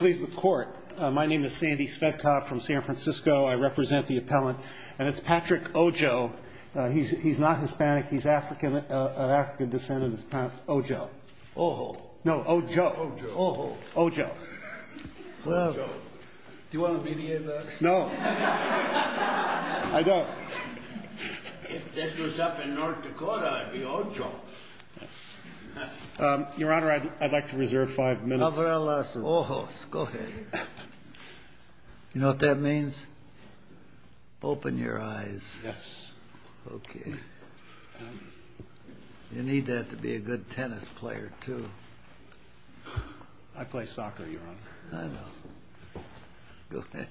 My name is Sandy Svetkov from San Francisco. I represent the appellant. And it's Patrick Ojo. He's not Hispanic. He's of African descent. Ojo. Ojo. No, Ojo. Ojo. Ojo. Ojo. Do you want to mediate that? No. I don't. If this was up in North Dakota, I'd be Ojo. Your Honor, I'd like to reserve five minutes. Go ahead. You know what that means? Open your eyes. Yes. Okay. You need that to be a good tennis player, too. I play soccer, Your Honor. I know. Go ahead.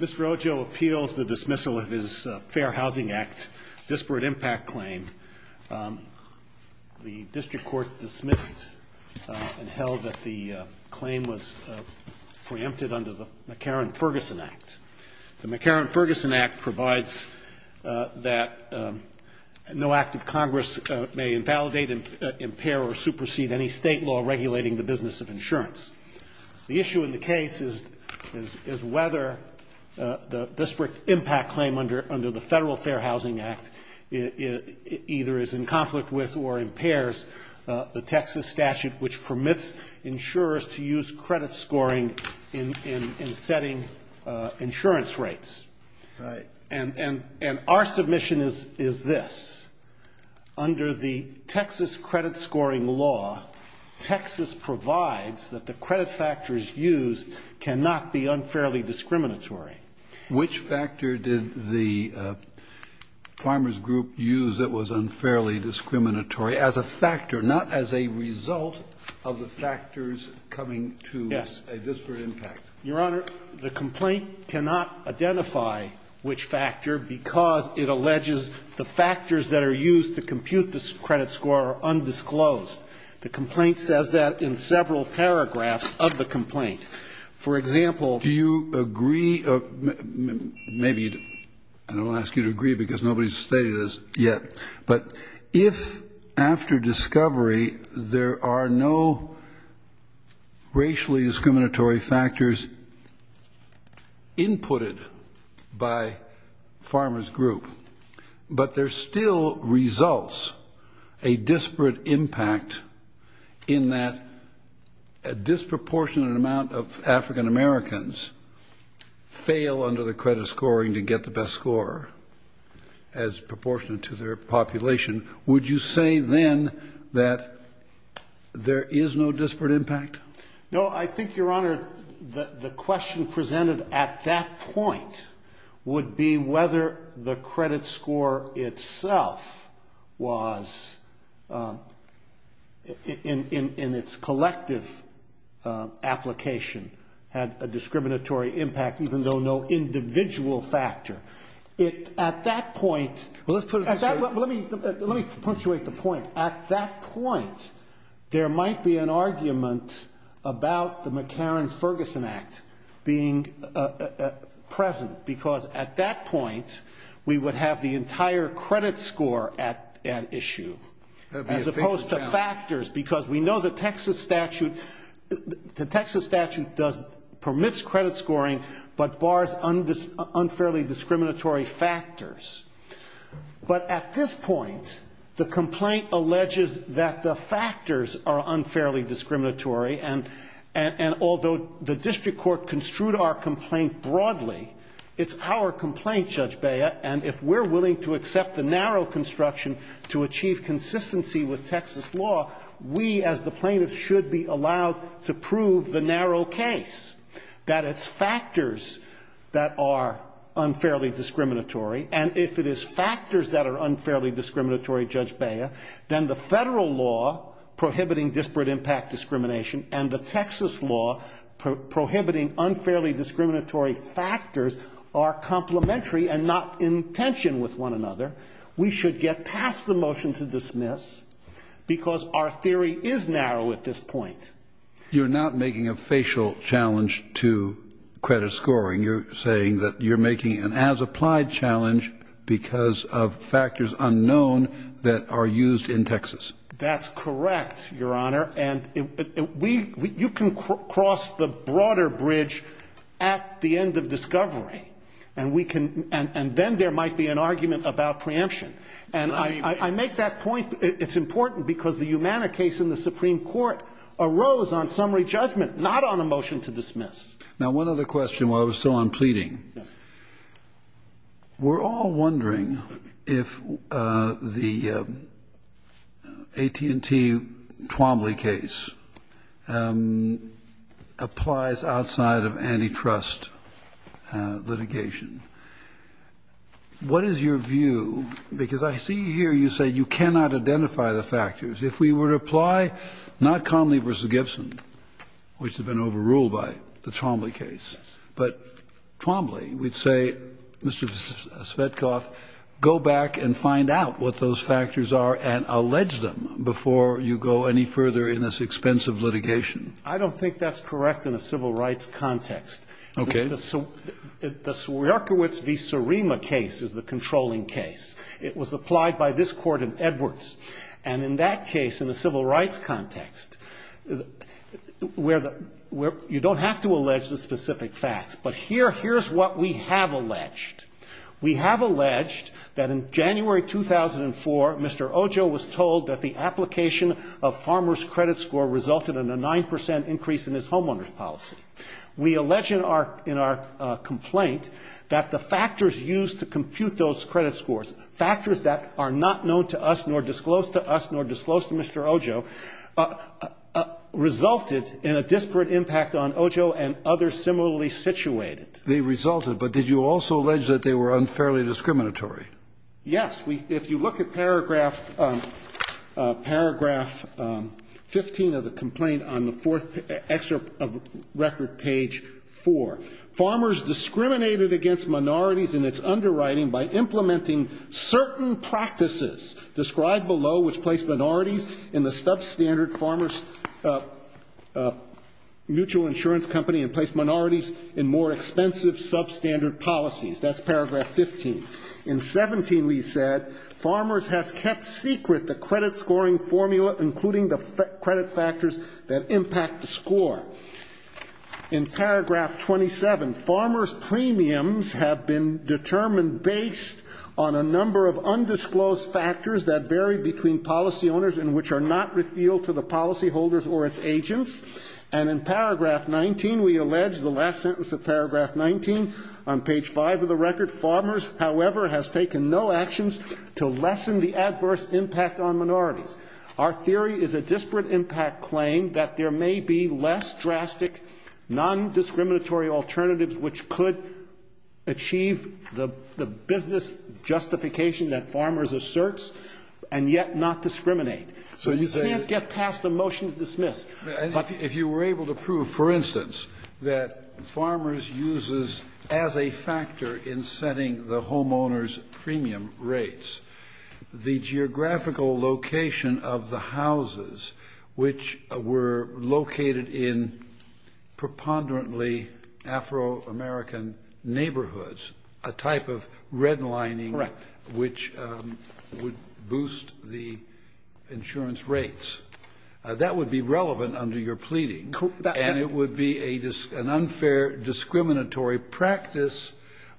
Mr. Ojo appeals the dismissal of his Fair Housing Act disparate impact claim. The district court dismissed and held that the claim was preempted under the McCarran-Ferguson Act. The McCarran-Ferguson Act provides that no act of Congress may invalidate, impair, or supersede any state law regulating the business of insurance. The issue in the case is whether the disparate impact claim under the Federal Fair Housing Act either is in conflict with or impairs the Texas statute which permits insurers to use credit scoring in setting insurance rates. Right. And our submission is this. Under the Texas credit scoring law, Texas provides that the credit factors used cannot be unfairly discriminatory. Which factor did the farmers group use that was unfairly discriminatory as a factor, not as a result of the factors coming to a disparate impact? Yes. Your Honor, the complaint cannot identify which factor because it alleges the factors that are used to compute the credit score are undisclosed. The complaint says that in several paragraphs of the complaint. For example, do you agree, maybe I don't ask you to agree because nobody's stated this yet, but if after discovery there are no racially discriminatory factors inputted by farmers group, but there still results a disparate impact in that a disproportionate amount of African Americans fail under the credit scoring to get the best score as proportionate to their population, would you say then that there is no disparate impact? No, I think, Your Honor, the question presented at that point would be whether the credit score itself was, in its collective application, had a discriminatory impact even though no individual factor. Let me punctuate the point. At that point, there might be an argument about the McCarran-Ferguson Act being present because at that point we would have the entire credit score at issue as opposed to factors because we know the Texas statute permits credit scoring but bars unfairly discriminatory factors. But at this point, the complaint alleges that the factors are unfairly discriminatory and although the district court construed our complaint broadly, it's our complaint, Judge Bea, and if we're willing to accept the narrow construction to achieve consistency with Texas law, we as the plaintiffs should be allowed to prove the narrow case that it's factors that are unfairly discriminatory and if it is factors that are unfairly discriminatory, Judge Bea, then the federal law prohibiting disparate impact discrimination and the Texas law prohibiting unfairly discriminatory factors are complementary and not in tension with one another. We should get past the motion to dismiss because our theory is narrow at this point. You're not making a facial challenge to credit scoring. You're saying that you're making an as-applied challenge because of factors unknown that are used in Texas. That's correct, Your Honor, and you can cross the broader bridge at the end of discovery and then there might be an argument about preemption. And I make that point. It's important because the Humana case in the Supreme Court arose on summary judgment, not on a motion to dismiss. Now, one other question while I was still on pleading. Yes. We're all wondering if the AT&T Twombly case applies outside of antitrust litigation. What is your view, because I see here you say you cannot identify the factors. If we were to apply not Conley v. Gibson, which had been overruled by the Twombly case, but Twombly, we'd say, Mr. Svetkov, go back and find out what those factors are and allege them before you go any further in this expensive litigation. I don't think that's correct in a civil rights context. Okay. The Sierkiewicz v. Surima case is the controlling case. It was applied by this Court in Edwards. And in that case, in the civil rights context, you don't have to allege the specific facts, but here's what we have alleged. We have alleged that in January 2004, Mr. Ojo was told that the application of Farmer's credit score resulted in a 9 percent increase in his homeowner's policy. We allege in our complaint that the factors used to compute those credit scores, factors that are not known to us nor disclosed to us nor disclosed to Mr. Ojo, resulted in a disparate impact on Ojo and others similarly situated. They resulted. But did you also allege that they were unfairly discriminatory? Yes. If you look at paragraph 15 of the complaint on the fourth excerpt of record page 4, Farmers discriminated against minorities in its underwriting by implementing certain practices described below, which placed minorities in the substandard farmer's mutual insurance company and placed minorities in more expensive substandard policies. That's paragraph 15. In 17, we said, Farmers has kept secret the credit scoring formula, including the credit factors that impact the score. In paragraph 27, Farmers premiums have been determined based on a number of undisclosed factors that vary between policy owners and which are not revealed to the policyholders or its agents. And in paragraph 19, we allege the last sentence of paragraph 19 on page 5 of the record, Farmers, however, has taken no actions to lessen the adverse impact on minorities. Our theory is a disparate impact claim that there may be less drastic nondiscriminatory alternatives which could achieve the business justification that Farmers asserts and yet not discriminate. So you can't get past the motion to dismiss. If you were able to prove, for instance, that Farmers uses as a factor in setting the homeowners premium rates. The geographical location of the houses which were located in preponderantly Afro-American neighborhoods, a type of redlining. Correct. Which would boost the insurance rates. That would be relevant under your pleading. Correct. And it would be an unfair discriminatory practice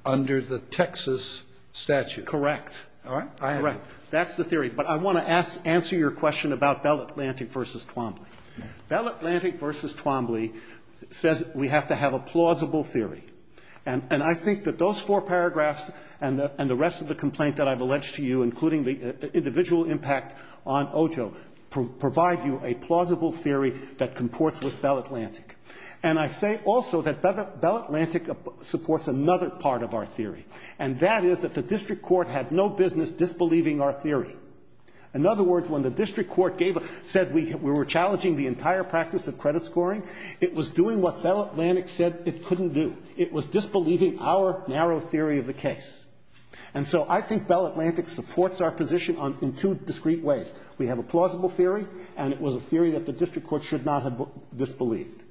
under the Texas statute. Correct. All right. That's the theory. But I want to answer your question about Bell Atlantic v. Twombly. Bell Atlantic v. Twombly says we have to have a plausible theory. And I think that those four paragraphs and the rest of the complaint that I've alleged to you, including the individual impact on Ojo, provide you a plausible theory that comports with Bell Atlantic. And I say also that Bell Atlantic supports another part of our theory, and that is that the district court had no business disbelieving our theory. In other words, when the district court said we were challenging the entire practice of credit scoring, it was doing what Bell Atlantic said it couldn't do. It was disbelieving our narrow theory of the case. And so I think Bell Atlantic supports our position in two discrete ways. We have a plausible theory, and it was a theory that the district court should not have disbelieved.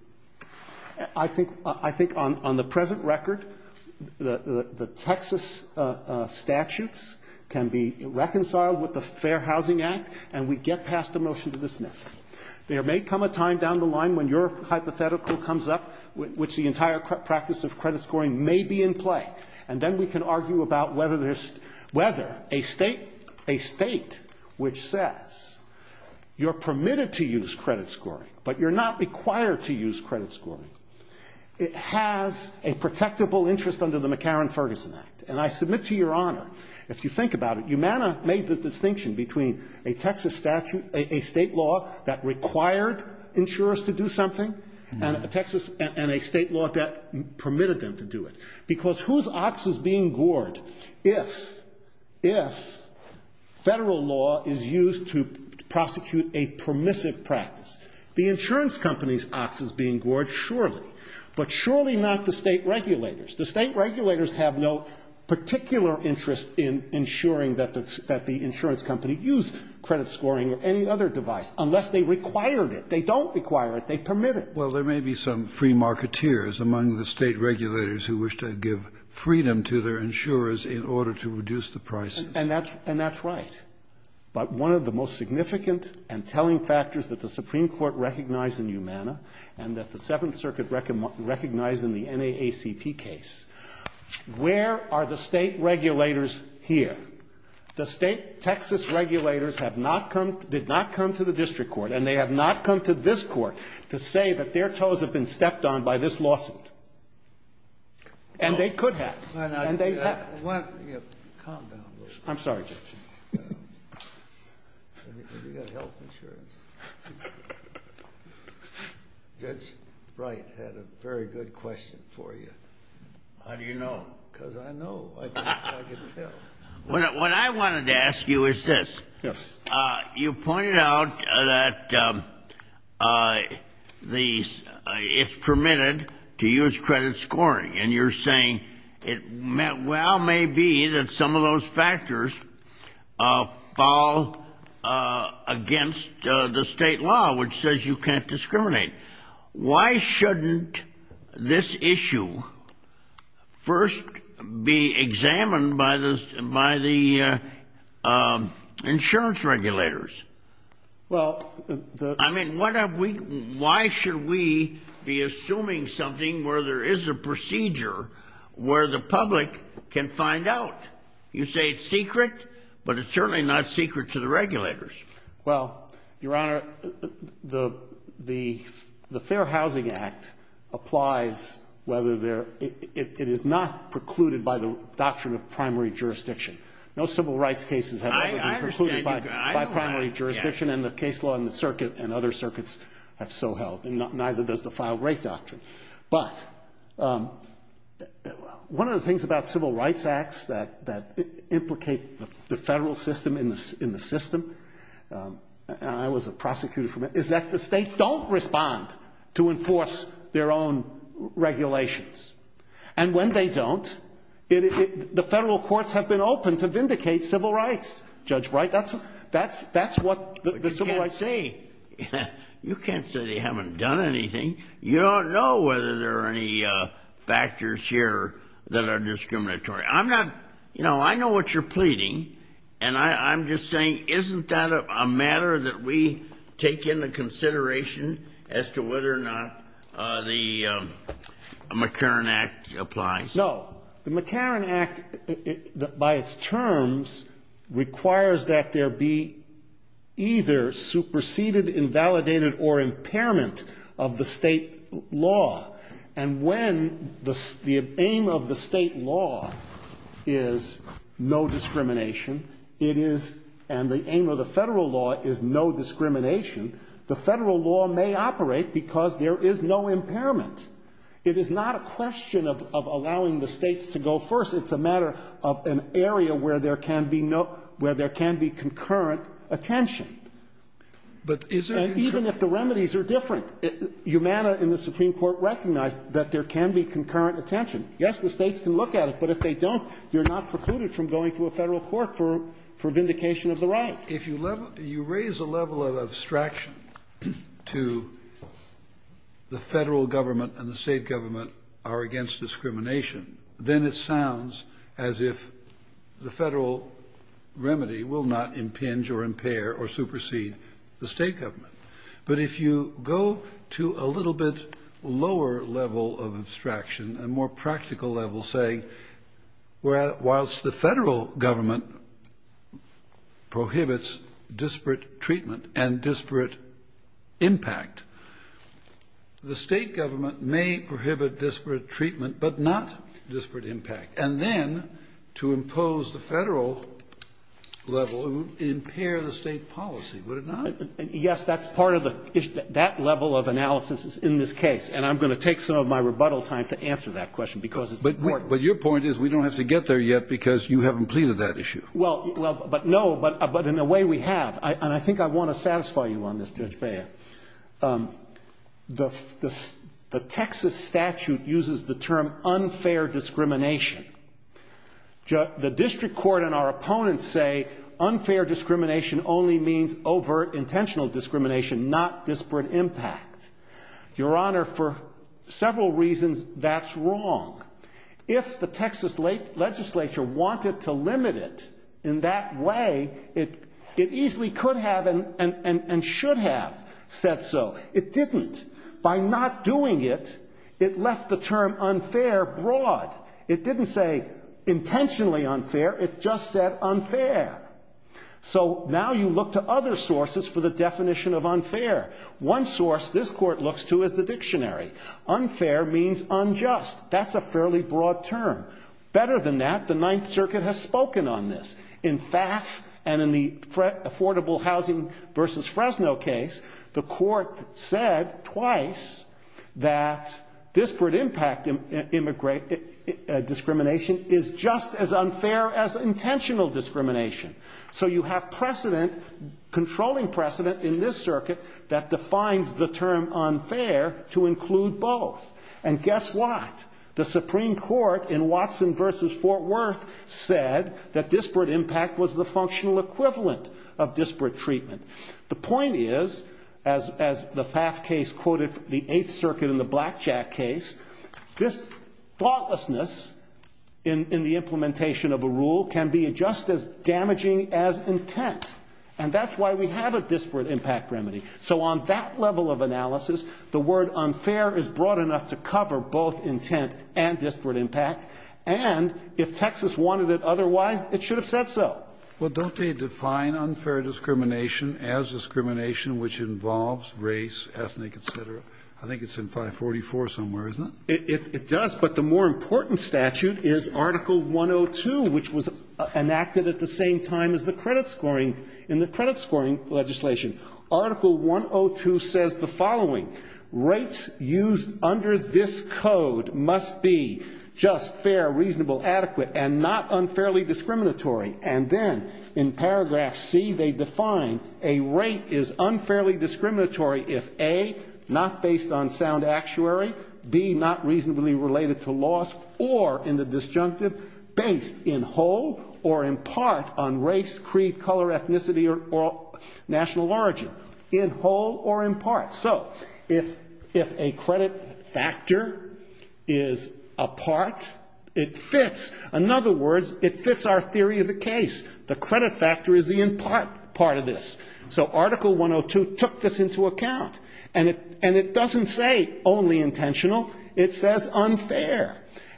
I think on the present record, the Texas statutes can be reconciled with the Fair Housing Act, and we get past the motion to dismiss. There may come a time down the line when your hypothetical comes up, which the entire practice of credit scoring may be in play. And then we can argue about whether a state which says you're permitted to use credit scoring, it has a protectable interest under the McCarran-Ferguson Act. And I submit to Your Honor, if you think about it, Umana made the distinction between a Texas statute, a state law that required insurers to do something, and a state law that permitted them to do it. Because whose ox is being gored if federal law is used to prosecute a permissive practice? The insurance company's ox is being gored, surely, but surely not the state regulators. The state regulators have no particular interest in ensuring that the insurance company use credit scoring or any other device, unless they required it. They don't require it. They permit it. Kennedy. Well, there may be some free marketeers among the state regulators who wish to give freedom to their insurers in order to reduce the prices. And that's right. But one of the most significant and telling factors that the Supreme Court recognized in Umana and that the Seventh Circuit recognized in the NAACP case, where are the state regulators here? The state Texas regulators have not come to the district court and they have not come to this Court to say that their toes have been stepped on by this lawsuit. And they could have. And they have. I'm sorry, Judge. Have you got health insurance? Judge Wright had a very good question for you. How do you know? Because I know. I can tell. What I wanted to ask you is this. Yes. You pointed out that it's permitted to use credit scoring. And you're saying it well may be that some of those factors fall against the state law, which says you can't discriminate. Why shouldn't this issue first be examined by the insurance regulators? Well, the — Well, Your Honor, the Fair Housing Act applies whether there — it is not precluded by the doctrine of primary jurisdiction. No civil rights cases have ever been precluded by primary jurisdiction. And the case law in the circuit and other circuits have so held. And neither does the file rate doctrine. But one of the things about civil rights acts that implicate the federal system in the system — and I was a prosecutor for a minute — is that the states don't respond to enforce their own regulations. And when they don't, the federal courts have been open to vindicate civil rights, Judge Wright. That's what the civil rights — You can't say. You can't say they haven't done anything. You don't know whether there are any factors here that are discriminatory. I'm not — you know, I know what you're pleading. And I'm just saying, isn't that a matter that we take into consideration as to whether or not the McCarran Act applies? No. The McCarran Act, by its terms, requires that there be either superseded, invalidated or impairment of the State law. And when the aim of the State law is no discrimination, it is — and the aim of the Federal law is no discrimination, the Federal law may operate because there is no impairment. It is not a question of allowing the States to go first. It's a matter of an area where there can be no — where there can be concurrent attention. And even if the remedies are different, Humana in the Supreme Court recognized that there can be concurrent attention. Yes, the States can look at it, but if they don't, you're not precluded from going to a Federal court for vindication of the right. If you level — if you raise a level of abstraction to the Federal government and the State government are against discrimination, then it sounds as if the Federal remedy will not impinge or impair or supersede the State government. But if you go to a little bit lower level of abstraction, a more practical level, say, where — whilst the Federal government prohibits disparate treatment and disparate impact, the State government may prohibit disparate treatment but not disparate impact, and then to impose the Federal level, it would impair the State policy, would it not? Yes, that's part of the — that level of analysis is in this case, and I'm going to take some of my rebuttal time to answer that question because it's important. But your point is we don't have to get there yet because you haven't pleaded that issue. Well, but no, but in a way we have, and I think I want to satisfy you on this, Judge the District Court and our opponents say unfair discrimination only means overt intentional discrimination, not disparate impact. Your Honor, for several reasons, that's wrong. If the Texas legislature wanted to limit it in that way, it easily could have and should have said so. It didn't. By not doing it, it left the term unfair broad. It didn't say intentionally unfair, it just said unfair. So now you look to other sources for the definition of unfair. One source this Court looks to is the dictionary. Unfair means unjust. That's a fairly broad term. Better than that, the Ninth Circuit has spoken on this. In FAF and in the affordable housing versus Fresno case, the Court said twice that disparate impact discrimination is just as unfair as intentional discrimination. So you have precedent, controlling precedent in this circuit that defines the term unfair to include both. And guess what? The Supreme Court in Watson versus Fort Worth said that disparate impact was the functional equivalent of disparate treatment. The point is, as the FAF case quoted the Eighth Circuit in the Blackjack case, this thoughtlessness in the implementation of a rule can be just as damaging as intent. And that's why we have a disparate impact remedy. So on that level of analysis, the word unfair is broad enough to cover both intent and disparate impact. And if Texas wanted it otherwise, it should have said so. Well, don't they define unfair discrimination as discrimination which involves race, ethnic, et cetera? I think it's in 544 somewhere, isn't it? It does, but the more important statute is Article 102, which was enacted at the same time as the credit scoring in the credit scoring legislation. Article 102 says the following. Rates used under this code must be just, fair, reasonable, adequate, and not unfairly discriminatory. And then in paragraph C, they define a rate is unfairly discriminatory if A, not based on sound actuary, B, not reasonably related to loss, or in the disjunctive, based in whole or in part on race, creed, color, ethnicity, or national origin. In whole or in part. So if a credit factor is a part, it fits. In other words, it fits our theory of the case. The credit factor is the in part part of this. So Article 102 took this into account. And it doesn't say only intentional. It says unfair.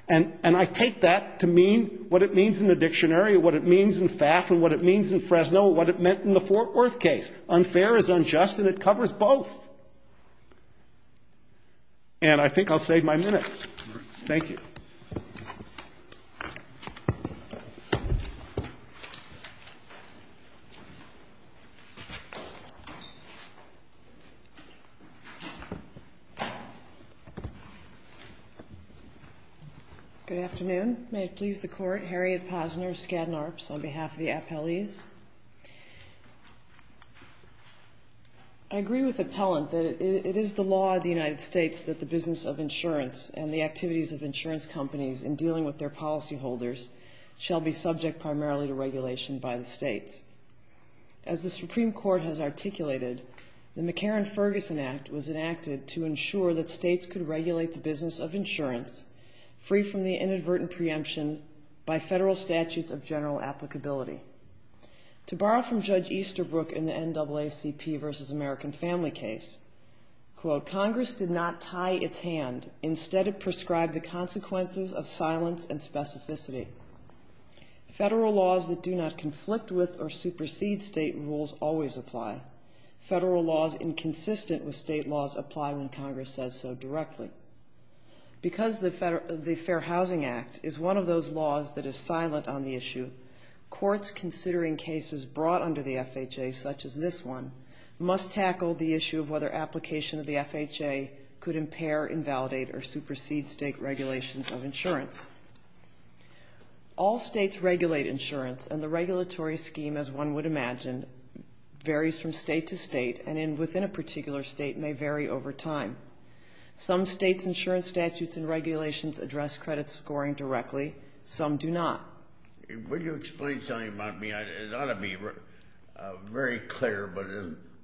And I take that to mean what it means in the dictionary, what it means in FAF and what it means in Fresno, what it meant in the Fort Worth case. Unfair is unjust and it covers both. And I think I'll save my minute. Thank you. Good afternoon. May it please the Court. Harriet Posner, Skadden Arps, on behalf of the appellees. I agree with Appellant that it is the law of the United States that the business of insurance companies in dealing with their policy holders shall be subject primarily to regulation by the states. As the Supreme Court has articulated, the McCarran-Ferguson Act was enacted to ensure that states could regulate the business of insurance free from the inadvertent preemption by federal statutes of general applicability. To borrow from Judge Easterbrook in the NAACP versus American Family case, quote, Congress did not tie its hand. Instead, it prescribed the consequences of silence and specificity. Federal laws that do not conflict with or supersede state rules always apply. Federal laws inconsistent with state laws apply when Congress says so directly. Because the Fair Housing Act is one of those laws that is silent on the issue, courts considering cases brought under the FHA, such as this one, must tackle the question of whether application of the FHA could impair, invalidate, or supersede state regulations of insurance. All states regulate insurance, and the regulatory scheme, as one would imagine, varies from state to state, and within a particular state may vary over time. Some states' insurance statutes and regulations address credit scoring directly. Some do not. Would you explain something about me? It ought to be very clear, but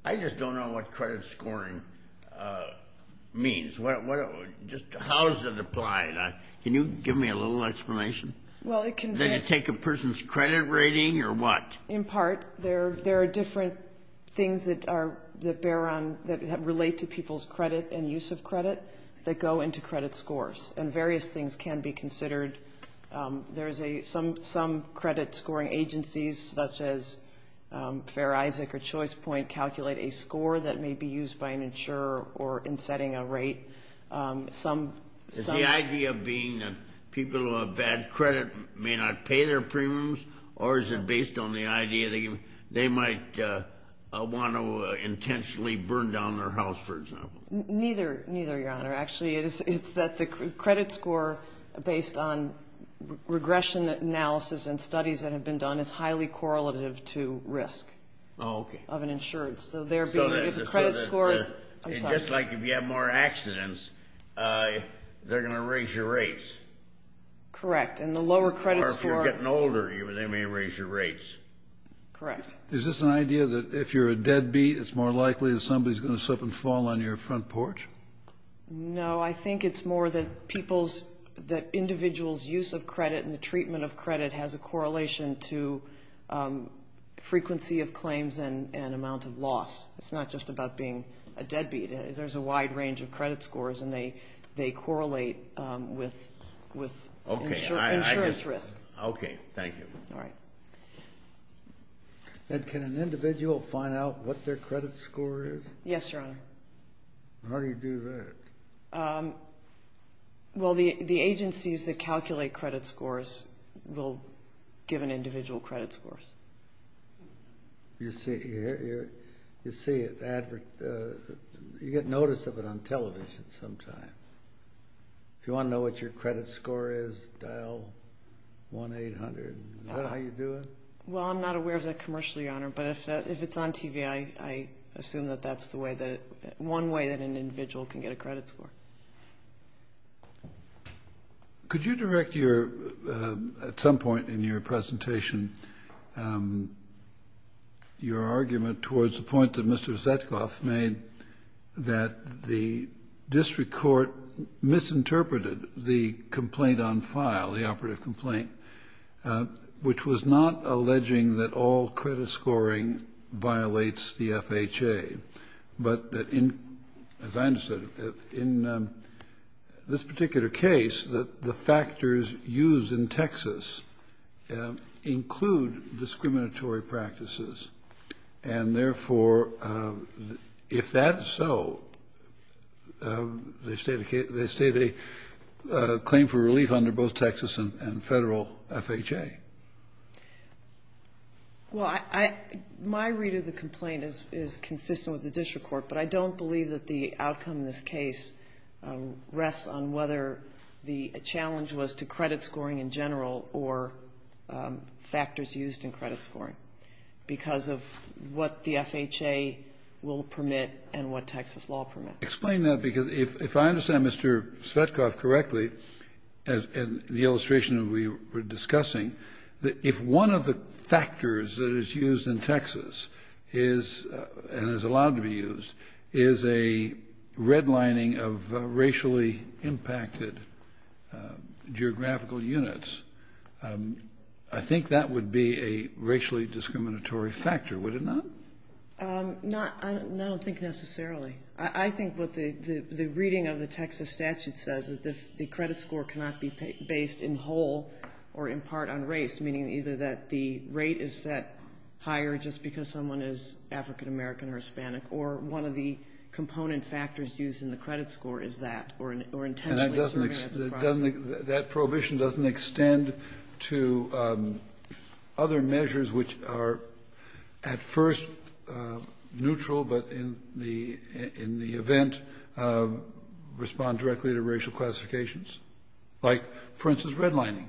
I just don't know what credit scoring means. Just how does it apply? Can you give me a little explanation? Well, it can be. Do you take a person's credit rating or what? In part. There are different things that are, that bear on, that relate to people's credit and use of credit that go into credit scores. And various things can be considered. There is some credit scoring agencies, such as Fair Isaac or Choice Point, calculate a score that may be used by an insurer or in setting a rate. Is the idea being that people who have bad credit may not pay their premiums, or is it based on the idea they might want to intentionally burn down their house, for example? Neither, Your Honor. Actually, it's that the credit score, based on regression analysis and studies that have been done, is highly correlative to risk of an insurance. Oh, okay. Just like if you have more accidents, they're going to raise your rates. Correct. And the lower credit score. Or if you're getting older, they may raise your rates. Correct. Is this an idea that if you're a deadbeat, it's more likely that somebody is going to slip and fall on your front porch? No, I think it's more that individuals' use of credit and the treatment of credit has a correlation to frequency of claims and amount of loss. It's not just about being a deadbeat. There's a wide range of credit scores, and they correlate with insurance risk. Okay, thank you. All right. And can an individual find out what their credit score is? Yes, Your Honor. How do you do that? Well, the agencies that calculate credit scores will give an individual credit scores. You see it. You get notice of it on television sometimes. If you want to know what your credit score is, dial 1-800. Is that how you do it? Well, I'm not aware of that commercially, Your Honor, but if it's on TV, I assume that that's the way that it one way that an individual can get a credit score. Could you direct your, at some point in your presentation, your argument towards the point that Mr. Zetkoff made, that the district court misinterpreted the complaint on file, the operative complaint, which was not alleging that all credit scoring violates the FHA, but that, as I understand it, in this particular case, the factors used in Texas include discriminatory practices, and therefore, if that is so, they stated a claim for relief under both Texas and Federal FHA. Well, my read of the complaint is consistent with the district court, but I don't believe that the outcome of this case rests on whether the challenge was to credit scoring in general or factors used in credit scoring because of what the FHA will permit and what Texas law permits. Explain that, because if I understand Mr. Zetkoff correctly, and the illustration that we were discussing, that if one of the factors that is used in Texas is, and is allowed to be used, is a redlining of racially impacted geographical units, I think that would be a racially discriminatory factor, would it not? I don't think necessarily. I think what the reading of the Texas statute says, that the credit score cannot be based in whole or in part on race, meaning either that the rate is set higher just because someone is African American or Hispanic, or one of the component factors used in the credit score is that, or intentionally serving as a process. That prohibition doesn't extend to other measures which are at first neutral, but in the event respond directly to racial classifications? Like, for instance, redlining?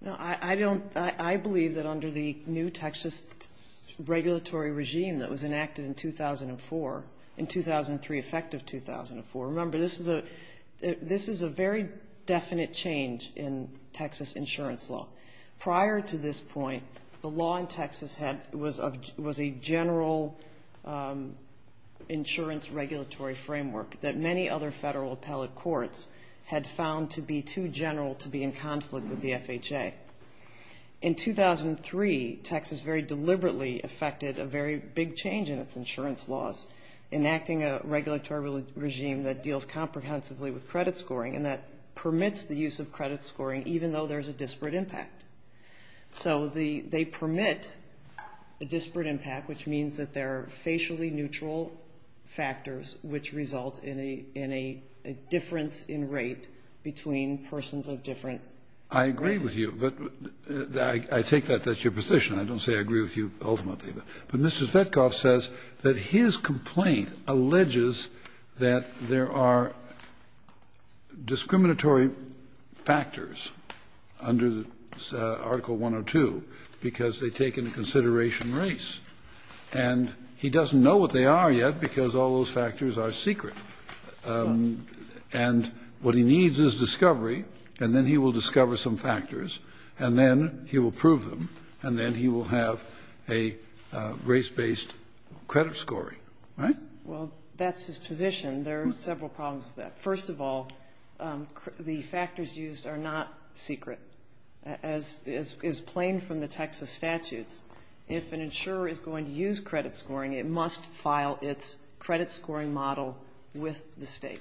No, I don't. I believe that under the new Texas regulatory regime that was enacted in 2004, in 2003, effective 2004, remember this is a very definite change in Texas insurance law. Prior to this point, the law in Texas was a general insurance regulatory framework that many other federal appellate courts had found to be too general to be in conflict with the FHA. In 2003, Texas very deliberately effected a very big change in its insurance laws, enacting a regulatory regime that deals comprehensively with credit scoring and that permits the use of credit scoring even though there's a disparate impact. So they permit a disparate impact, which means that there are facially neutral factors which result in a difference in rate between persons of different races. I agree with you, but I take that that's your position. I don't say I agree with you ultimately. But Mr. Zvetkov says that his complaint alleges that there are discriminatory factors under Article 102 because they take into consideration race. And he doesn't know what they are yet because all those factors are secret. And what he needs is discovery, and then he will discover some factors, and then he will prove them, and then he will have a race-based credit scoring. Right? Well, that's his position. There are several problems with that. First of all, the factors used are not secret, as is plain from the Texas statutes. If an insurer is going to use credit scoring, it must file its credit scoring model with the State,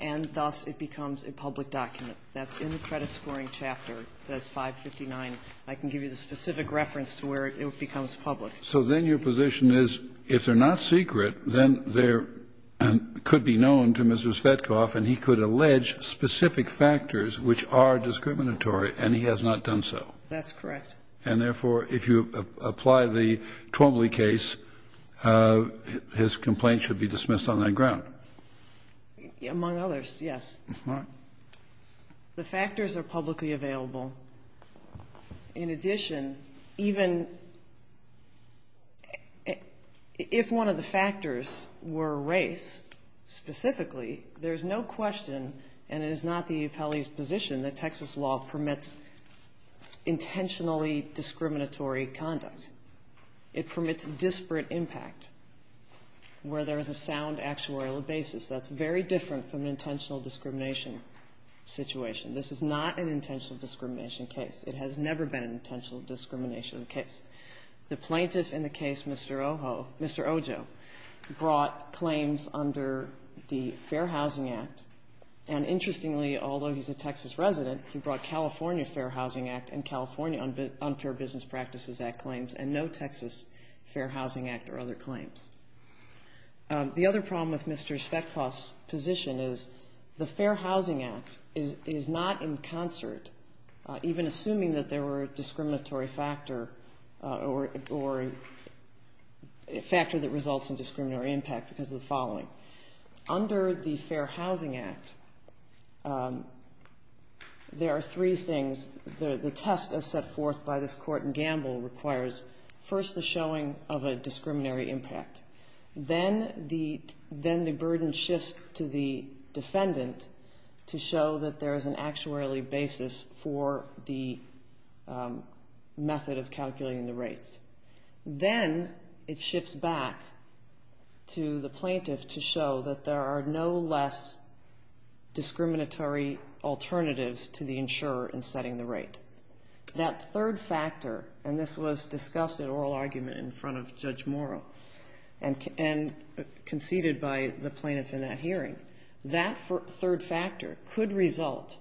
and thus it becomes a public document. That's in the credit scoring chapter. That's 559. I can give you the specific reference to where it becomes public. So then your position is if they're not secret, then they're and could be known to Mr. Zvetkov, and he could allege specific factors which are discriminatory and he has not done so. That's correct. And therefore, if you apply the Twombly case, his complaint should be dismissed on that ground. Among others, yes. All right. The factors are publicly available. In addition, even if one of the factors were race, specifically, there's no question and it is not the appellee's position that Texas law permits intentionally discriminatory conduct. It permits disparate impact where there is a sound actuarial basis. That's very different from an intentional discrimination situation. This is not an intentional discrimination case. It has never been an intentional discrimination case. The plaintiff in the case, Mr. Ojo, brought claims under the Fair Housing Act. And interestingly, although he's a Texas resident, he brought California Fair Housing Act and California Unfair Business Practices Act claims and no Texas Fair Housing Act or other claims. The other problem with Mr. Zvetkov's position is the Fair Housing Act is not in concert, even assuming that there were a discriminatory factor or a factor that results in discriminatory impact because of the following. Under the Fair Housing Act, there are three things. The test as set forth by this court in Gamble requires first the showing of a discriminatory impact. Then the burden shifts to the defendant to show that there is an actuarially basis Then it shifts back to the plaintiff to show that there are no less discriminatory alternatives to the insurer in setting the rate. That third factor, and this was discussed at oral argument in front of Judge Morrow and conceded by the plaintiff in that hearing, that third factor could result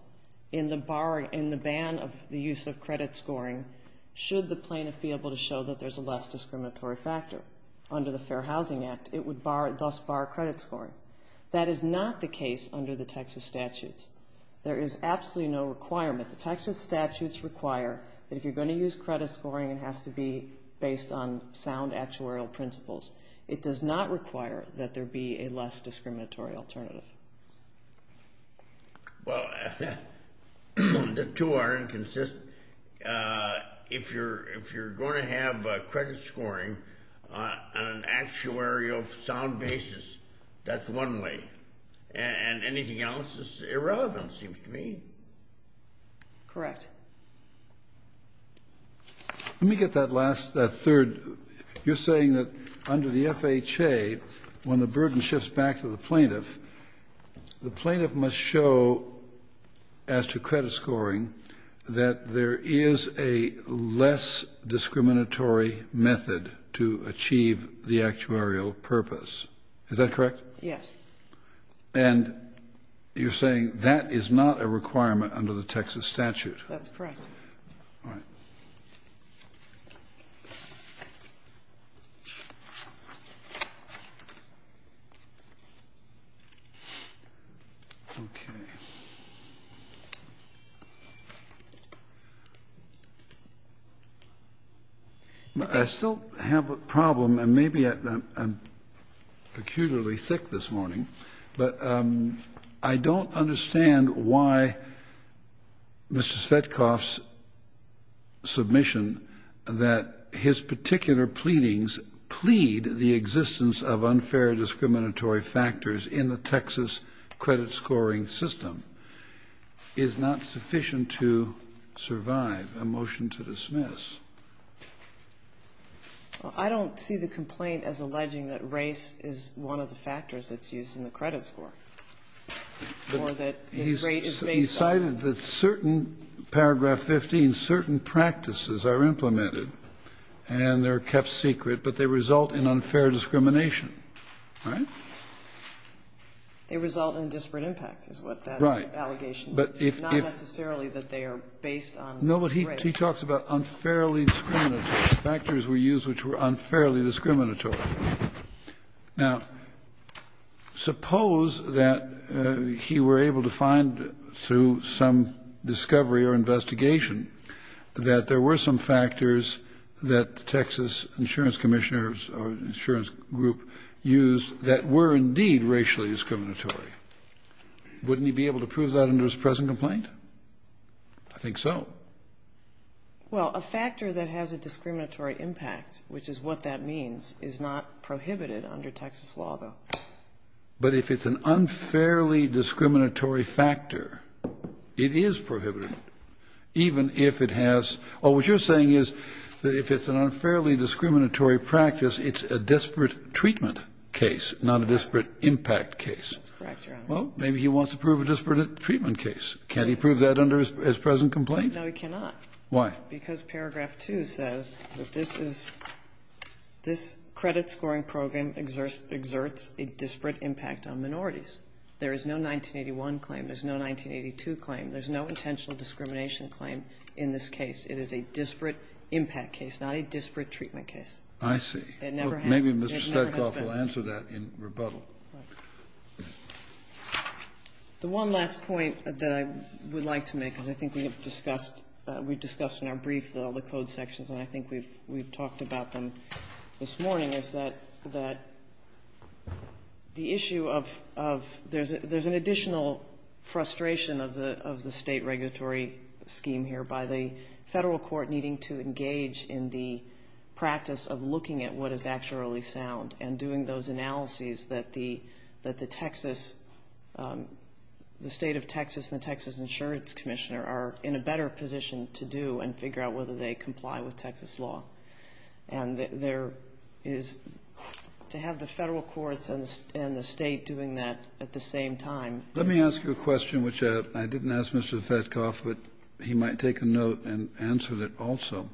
in the ban of the use of credit scoring should the plaintiff be able to show that there's a less discriminatory factor. Under the Fair Housing Act, it would thus bar credit scoring. That is not the case under the Texas statutes. There is absolutely no requirement. The Texas statutes require that if you're going to use credit scoring, it has to be based on sound actuarial principles. It does not require that there be a less discriminatory alternative. Well, the two aren't consistent. If you're going to have credit scoring on an actuarial sound basis, that's one way. And anything else is irrelevant, it seems to me. Correct. Let me get that last, that third. You're saying that under the FHA, when the burden shifts back to the plaintiff, the plaintiff must show as to credit scoring that there is a less discriminatory method to achieve the actuarial purpose. Is that correct? Yes. And you're saying that is not a requirement under the Texas statute. That's correct. All right. I still have a problem, and maybe I'm peculiarly thick this morning, but I don't understand why Mr. Svetkoff's submission that his particular pleadings plead the existence of unfair discriminatory factors in the Texas credit scoring system is not sufficient to survive. A motion to dismiss. Well, I don't see the complaint as alleging that race is one of the factors that's used in the credit score or that the grade is based on. He cited that certain, paragraph 15, certain practices are implemented and they're kept secret, but they result in unfair discrimination. Right? They result in disparate impact is what that allegation is. Right. Not necessarily that they are based on race. No, but he talks about unfairly discriminatory. Factors were used which were unfairly discriminatory. Now, suppose that he were able to find through some discovery or investigation that there were some factors that the Texas insurance commissioners or insurance group used that were indeed racially discriminatory. Wouldn't he be able to prove that under his present complaint? I think so. Well, a factor that has a discriminatory impact, which is what that means, is not prohibited under Texas law, though. But if it's an unfairly discriminatory factor, it is prohibited, even if it has or what you're saying is that if it's an unfairly discriminatory practice, it's a disparate treatment case, not a disparate impact case. That's correct, Your Honor. Well, maybe he wants to prove a disparate treatment case. Can't he prove that under his present complaint? No, he cannot. Why? Because paragraph 2 says that this is this credit scoring program exerts a disparate impact on minorities. There is no 1981 claim. There's no 1982 claim. There's no intentional discrimination claim in this case. It is a disparate impact case, not a disparate treatment case. I see. It never has been. Maybe Mr. Stetkoff will answer that in rebuttal. The one last point that I would like to make, because I think we have discussed in our brief all the code sections, and I think we've talked about them this morning, is that the issue of there's an additional frustration of the State regulatory scheme here by the Federal court needing to engage in the practice of looking at what actually sound and doing those analyses that the Texas, the State of Texas and the Texas Insurance Commissioner are in a better position to do and figure out whether they comply with Texas law. And there is, to have the Federal courts and the State doing that at the same time Let me ask you a question, which I didn't ask Mr. Stetkoff, but he might take a note and answer it also.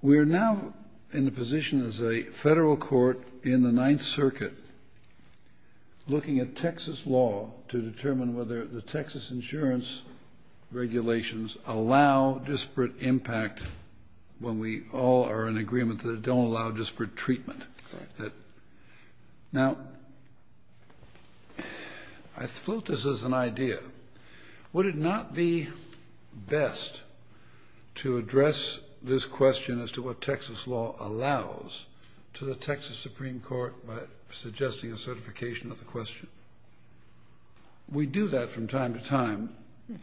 We are now in the position as a Federal court in the Ninth Circuit looking at Texas law to determine whether the Texas insurance regulations allow disparate impact when we all are in agreement that they don't allow disparate treatment. Now, I float this as an idea. Would it not be best to address this question as to what Texas law allows to the Texas Supreme Court by suggesting a certification of the question? We do that from time to time,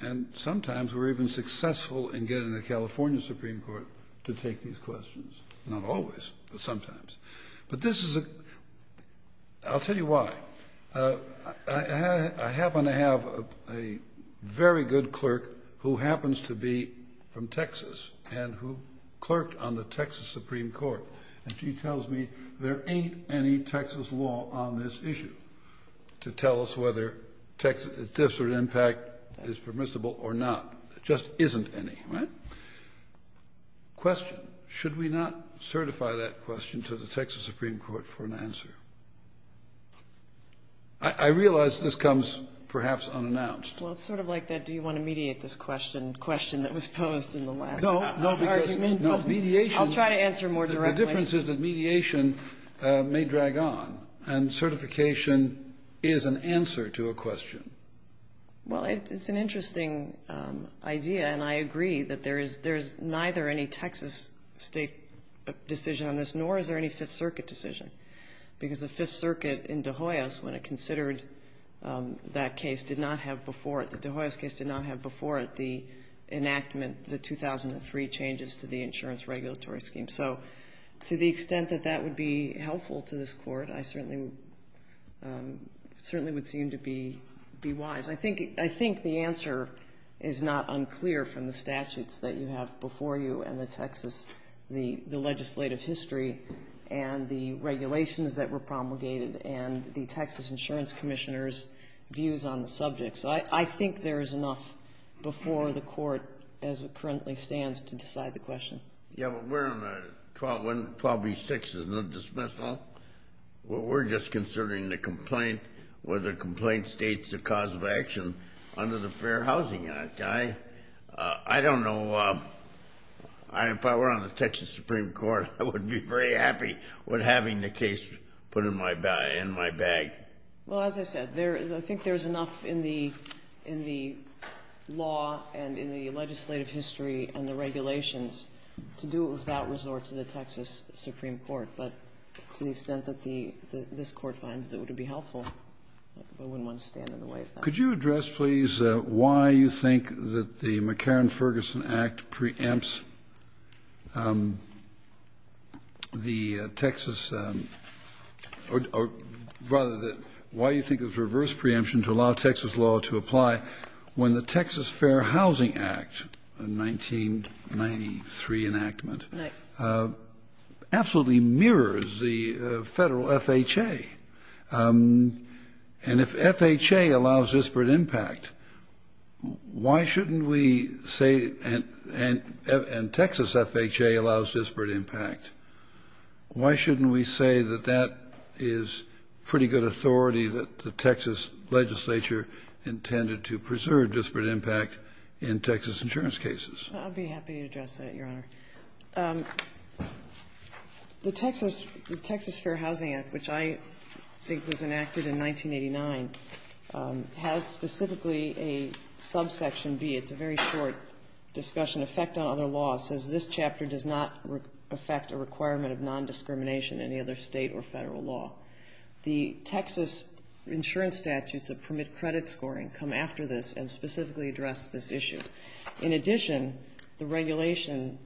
and sometimes we're even successful in getting the California Supreme Court to take these questions. Not always, but sometimes. But this is a, I'll tell you why. I happen to have a very good clerk who happens to be from Texas and who clerked on the Texas Supreme Court. And she tells me there ain't any Texas law on this issue to tell us whether disparate impact is permissible or not. There just isn't any. Question. Should we not certify that question to the Texas Supreme Court for an answer? I realize this comes perhaps unannounced. Well, it's sort of like that do you want to mediate this question, question that was posed in the last argument. No, mediation. I'll try to answer more directly. The difference is that mediation may drag on, and certification is an answer to a question. Well, it's an interesting idea, and I agree that there is neither any Texas State decision on this, nor is there any Fifth Circuit decision. Because the Fifth Circuit in De Hoyos, when it considered that case, did not have before it, the De Hoyos case did not have before it, the enactment, the 2003 changes to the insurance regulatory scheme. So to the extent that that would be helpful to this Court, I certainly would seem to be wise. I think the answer is not unclear from the statutes that you have before you and the Texas, the legislative history and the regulations that were promulgated and the Texas Insurance Commissioner's views on the subject. So I think there is enough before the Court as it currently stands to decide the question. Yeah, but we're on 12B-6, the dismissal. We're just considering the complaint, whether the complaint states the cause of action under the Fair Housing Act. I don't know. If I were on the Texas Supreme Court, I would be very happy with having the case put in my bag. Well, as I said, I think there is enough in the law and in the legislative history and the regulations to do it without resort to the Texas Supreme Court. But to the extent that this Court finds it would be helpful, I wouldn't want to stand in the way of that. Could you address, please, why you think that the McCarran-Ferguson Act preempts the Texas or rather why you think it's a reverse preemption to allow the Texas law to apply when the Texas Fair Housing Act, a 1993 enactment, absolutely mirrors the Federal FHA? And if FHA allows disparate impact, why shouldn't we say and Texas FHA allows disparate impact, why shouldn't we say that that is pretty good authority that the legislature intended to preserve disparate impact in Texas insurance cases? I'd be happy to address that, Your Honor. The Texas Fair Housing Act, which I think was enacted in 1989, has specifically a subsection B. It's a very short discussion. Effect on other laws says this chapter does not affect a requirement of nondiscrimination in any other State or Federal law. The Texas insurance statutes that permit credit scoring come after this and specifically address this issue. In addition, the regulation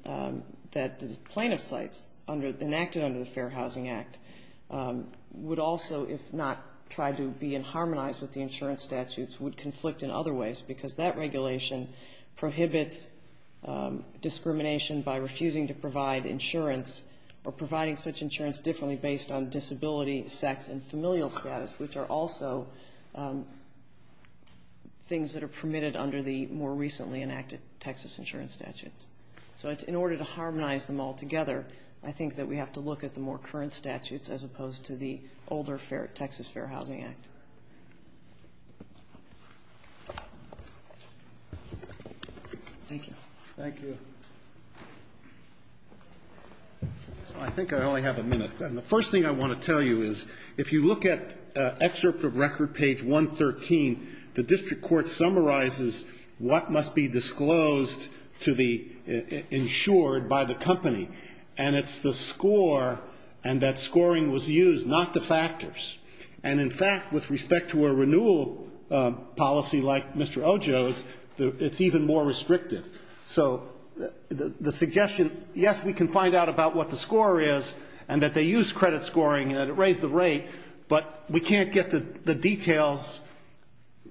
that the plaintiff cites enacted under the Fair Housing Act would also, if not tried to be in harmonized with the insurance statutes, would conflict in other ways because that regulation prohibits discrimination by refusing to provide insurance or providing such insurance differently based on disability, sex, and familial status, which are also things that are permitted under the more recently enacted Texas insurance statutes. So in order to harmonize them all together, I think that we have to look at the more current statutes as opposed to the older Texas Fair Housing Act. Thank you. Thank you. I think I only have a minute. The first thing I want to tell you is if you look at excerpt of record page 113, the district court summarizes what must be disclosed to the insured by the company, and it's the score and that scoring was used, not the factors. And in fact, with respect to a renewal policy like Mr. Ojo's, it's even more restrictive. So the suggestion, yes, we can find out about what the score is and that they use credit scoring and that it raised the rate, but we can't get the details.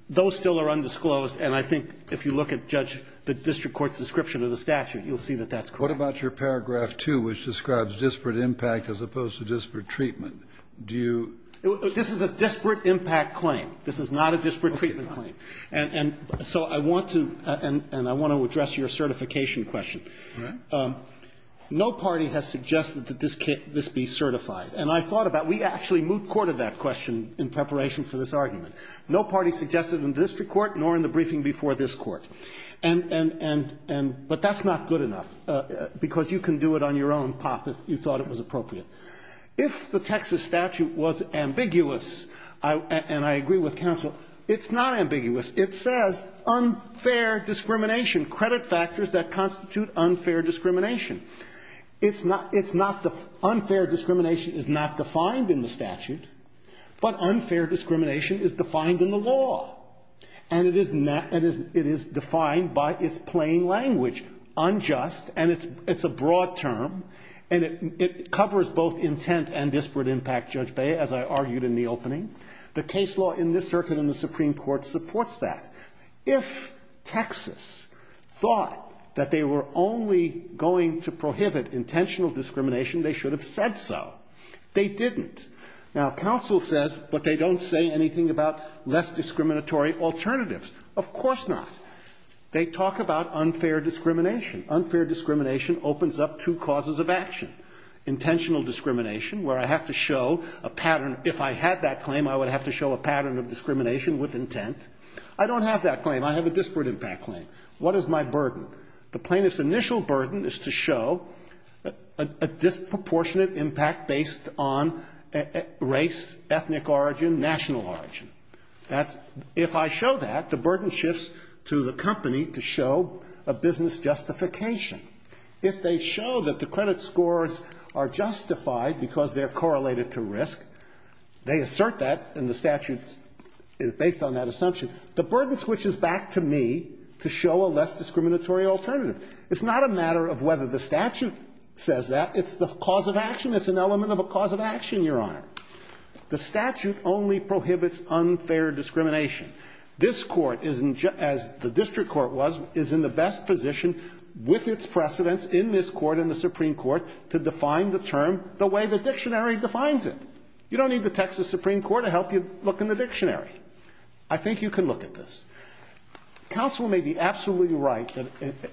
Those still are undisclosed. And I think if you look at, Judge, the district court's description of the statute, you'll see that that's correct. What about your paragraph 2, which describes disparate impact as opposed to disparate treatment? Do you ---- This is a disparate impact claim. This is not a disparate treatment claim. And so I want to ---- and I want to address your certification question. All right. No party has suggested that this be certified. And I thought about it. We actually moved court of that question in preparation for this argument. No party suggested in the district court nor in the briefing before this court. And ---- but that's not good enough, because you can do it on your own, Pop, if you thought it was appropriate. If the Texas statute was ambiguous, and I agree with counsel, it's not ambiguous. It says unfair discrimination, credit factors that constitute unfair discrimination. It's not the ---- unfair discrimination is not defined in the statute, but unfair discrimination is defined in the law. And it is not ---- it is defined by its plain language, unjust, and it's a broad term, and it covers both intent and disparate impact, Judge Beyer, as I argued in the opening. The case law in this circuit in the Supreme Court supports that. If Texas thought that they were only going to prohibit intentional discrimination, they should have said so. They didn't. Now, counsel says, but they don't say anything about less discriminatory alternatives. Of course not. They talk about unfair discrimination. Unfair discrimination opens up two causes of action. Intentional discrimination, where I have to show a pattern. If I had that claim, I would have to show a pattern of discrimination with intent. I don't have that claim. I have a disparate impact claim. What is my burden? The plaintiff's initial burden is to show a disproportionate impact based on race, ethnic origin, national origin. That's ---- if I show that, the burden shifts to the company to show a business justification. If they show that the credit scores are justified because they're correlated to risk, they assert that, and the statute is based on that assumption. The burden switches back to me to show a less discriminatory alternative. It's not a matter of whether the statute says that. It's the cause of action. It's an element of a cause of action, Your Honor. The statute only prohibits unfair discrimination. This court, as the district court was, is in the best position with its precedents in this court and the Supreme Court to define the term the way the dictionary defines it. You don't need the Texas Supreme Court to help you look in the dictionary. I think you can look at this. Counsel may be absolutely right that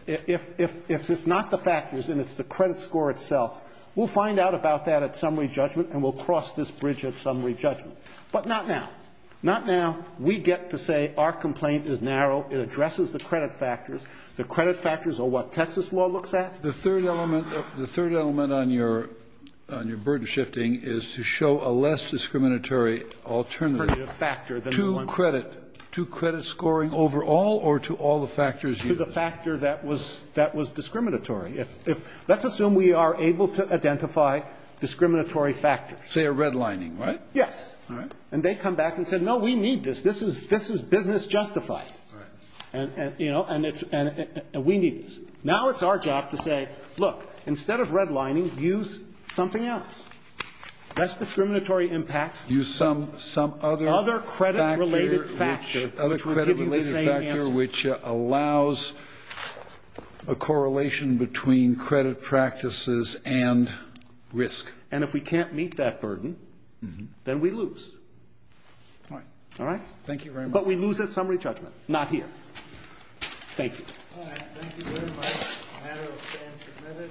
if it's not the factors and it's the credit score itself, we'll find out about that at summary judgment and we'll cross this bridge at summary judgment. But not now. Not now. We get to say our complaint is narrow. It addresses the credit factors. The credit factors are what Texas law looks at. The third element on your burden shifting is to show a less discriminatory alternative to credit, to credit scoring overall or to all the factors used? To the factor that was discriminatory. Let's assume we are able to identify discriminatory factors. Say a redlining, right? Yes. All right. And they come back and say, no, we need this. This is business justified. All right. And, you know, we need this. Now it's our job to say, look, instead of redlining, use something else. Less discriminatory impacts. Use some other factor. Other credit-related factor, which would give you the same answer. Other credit-related factor, which allows a correlation between credit practices and risk. And if we can't meet that burden, then we lose. All right. All right? Thank you very much. But we lose at summary judgment. Not here. Thank you. All right. Thank you very much. The matter will stand committed and the court will adjourn. All rise. Court is adjourned.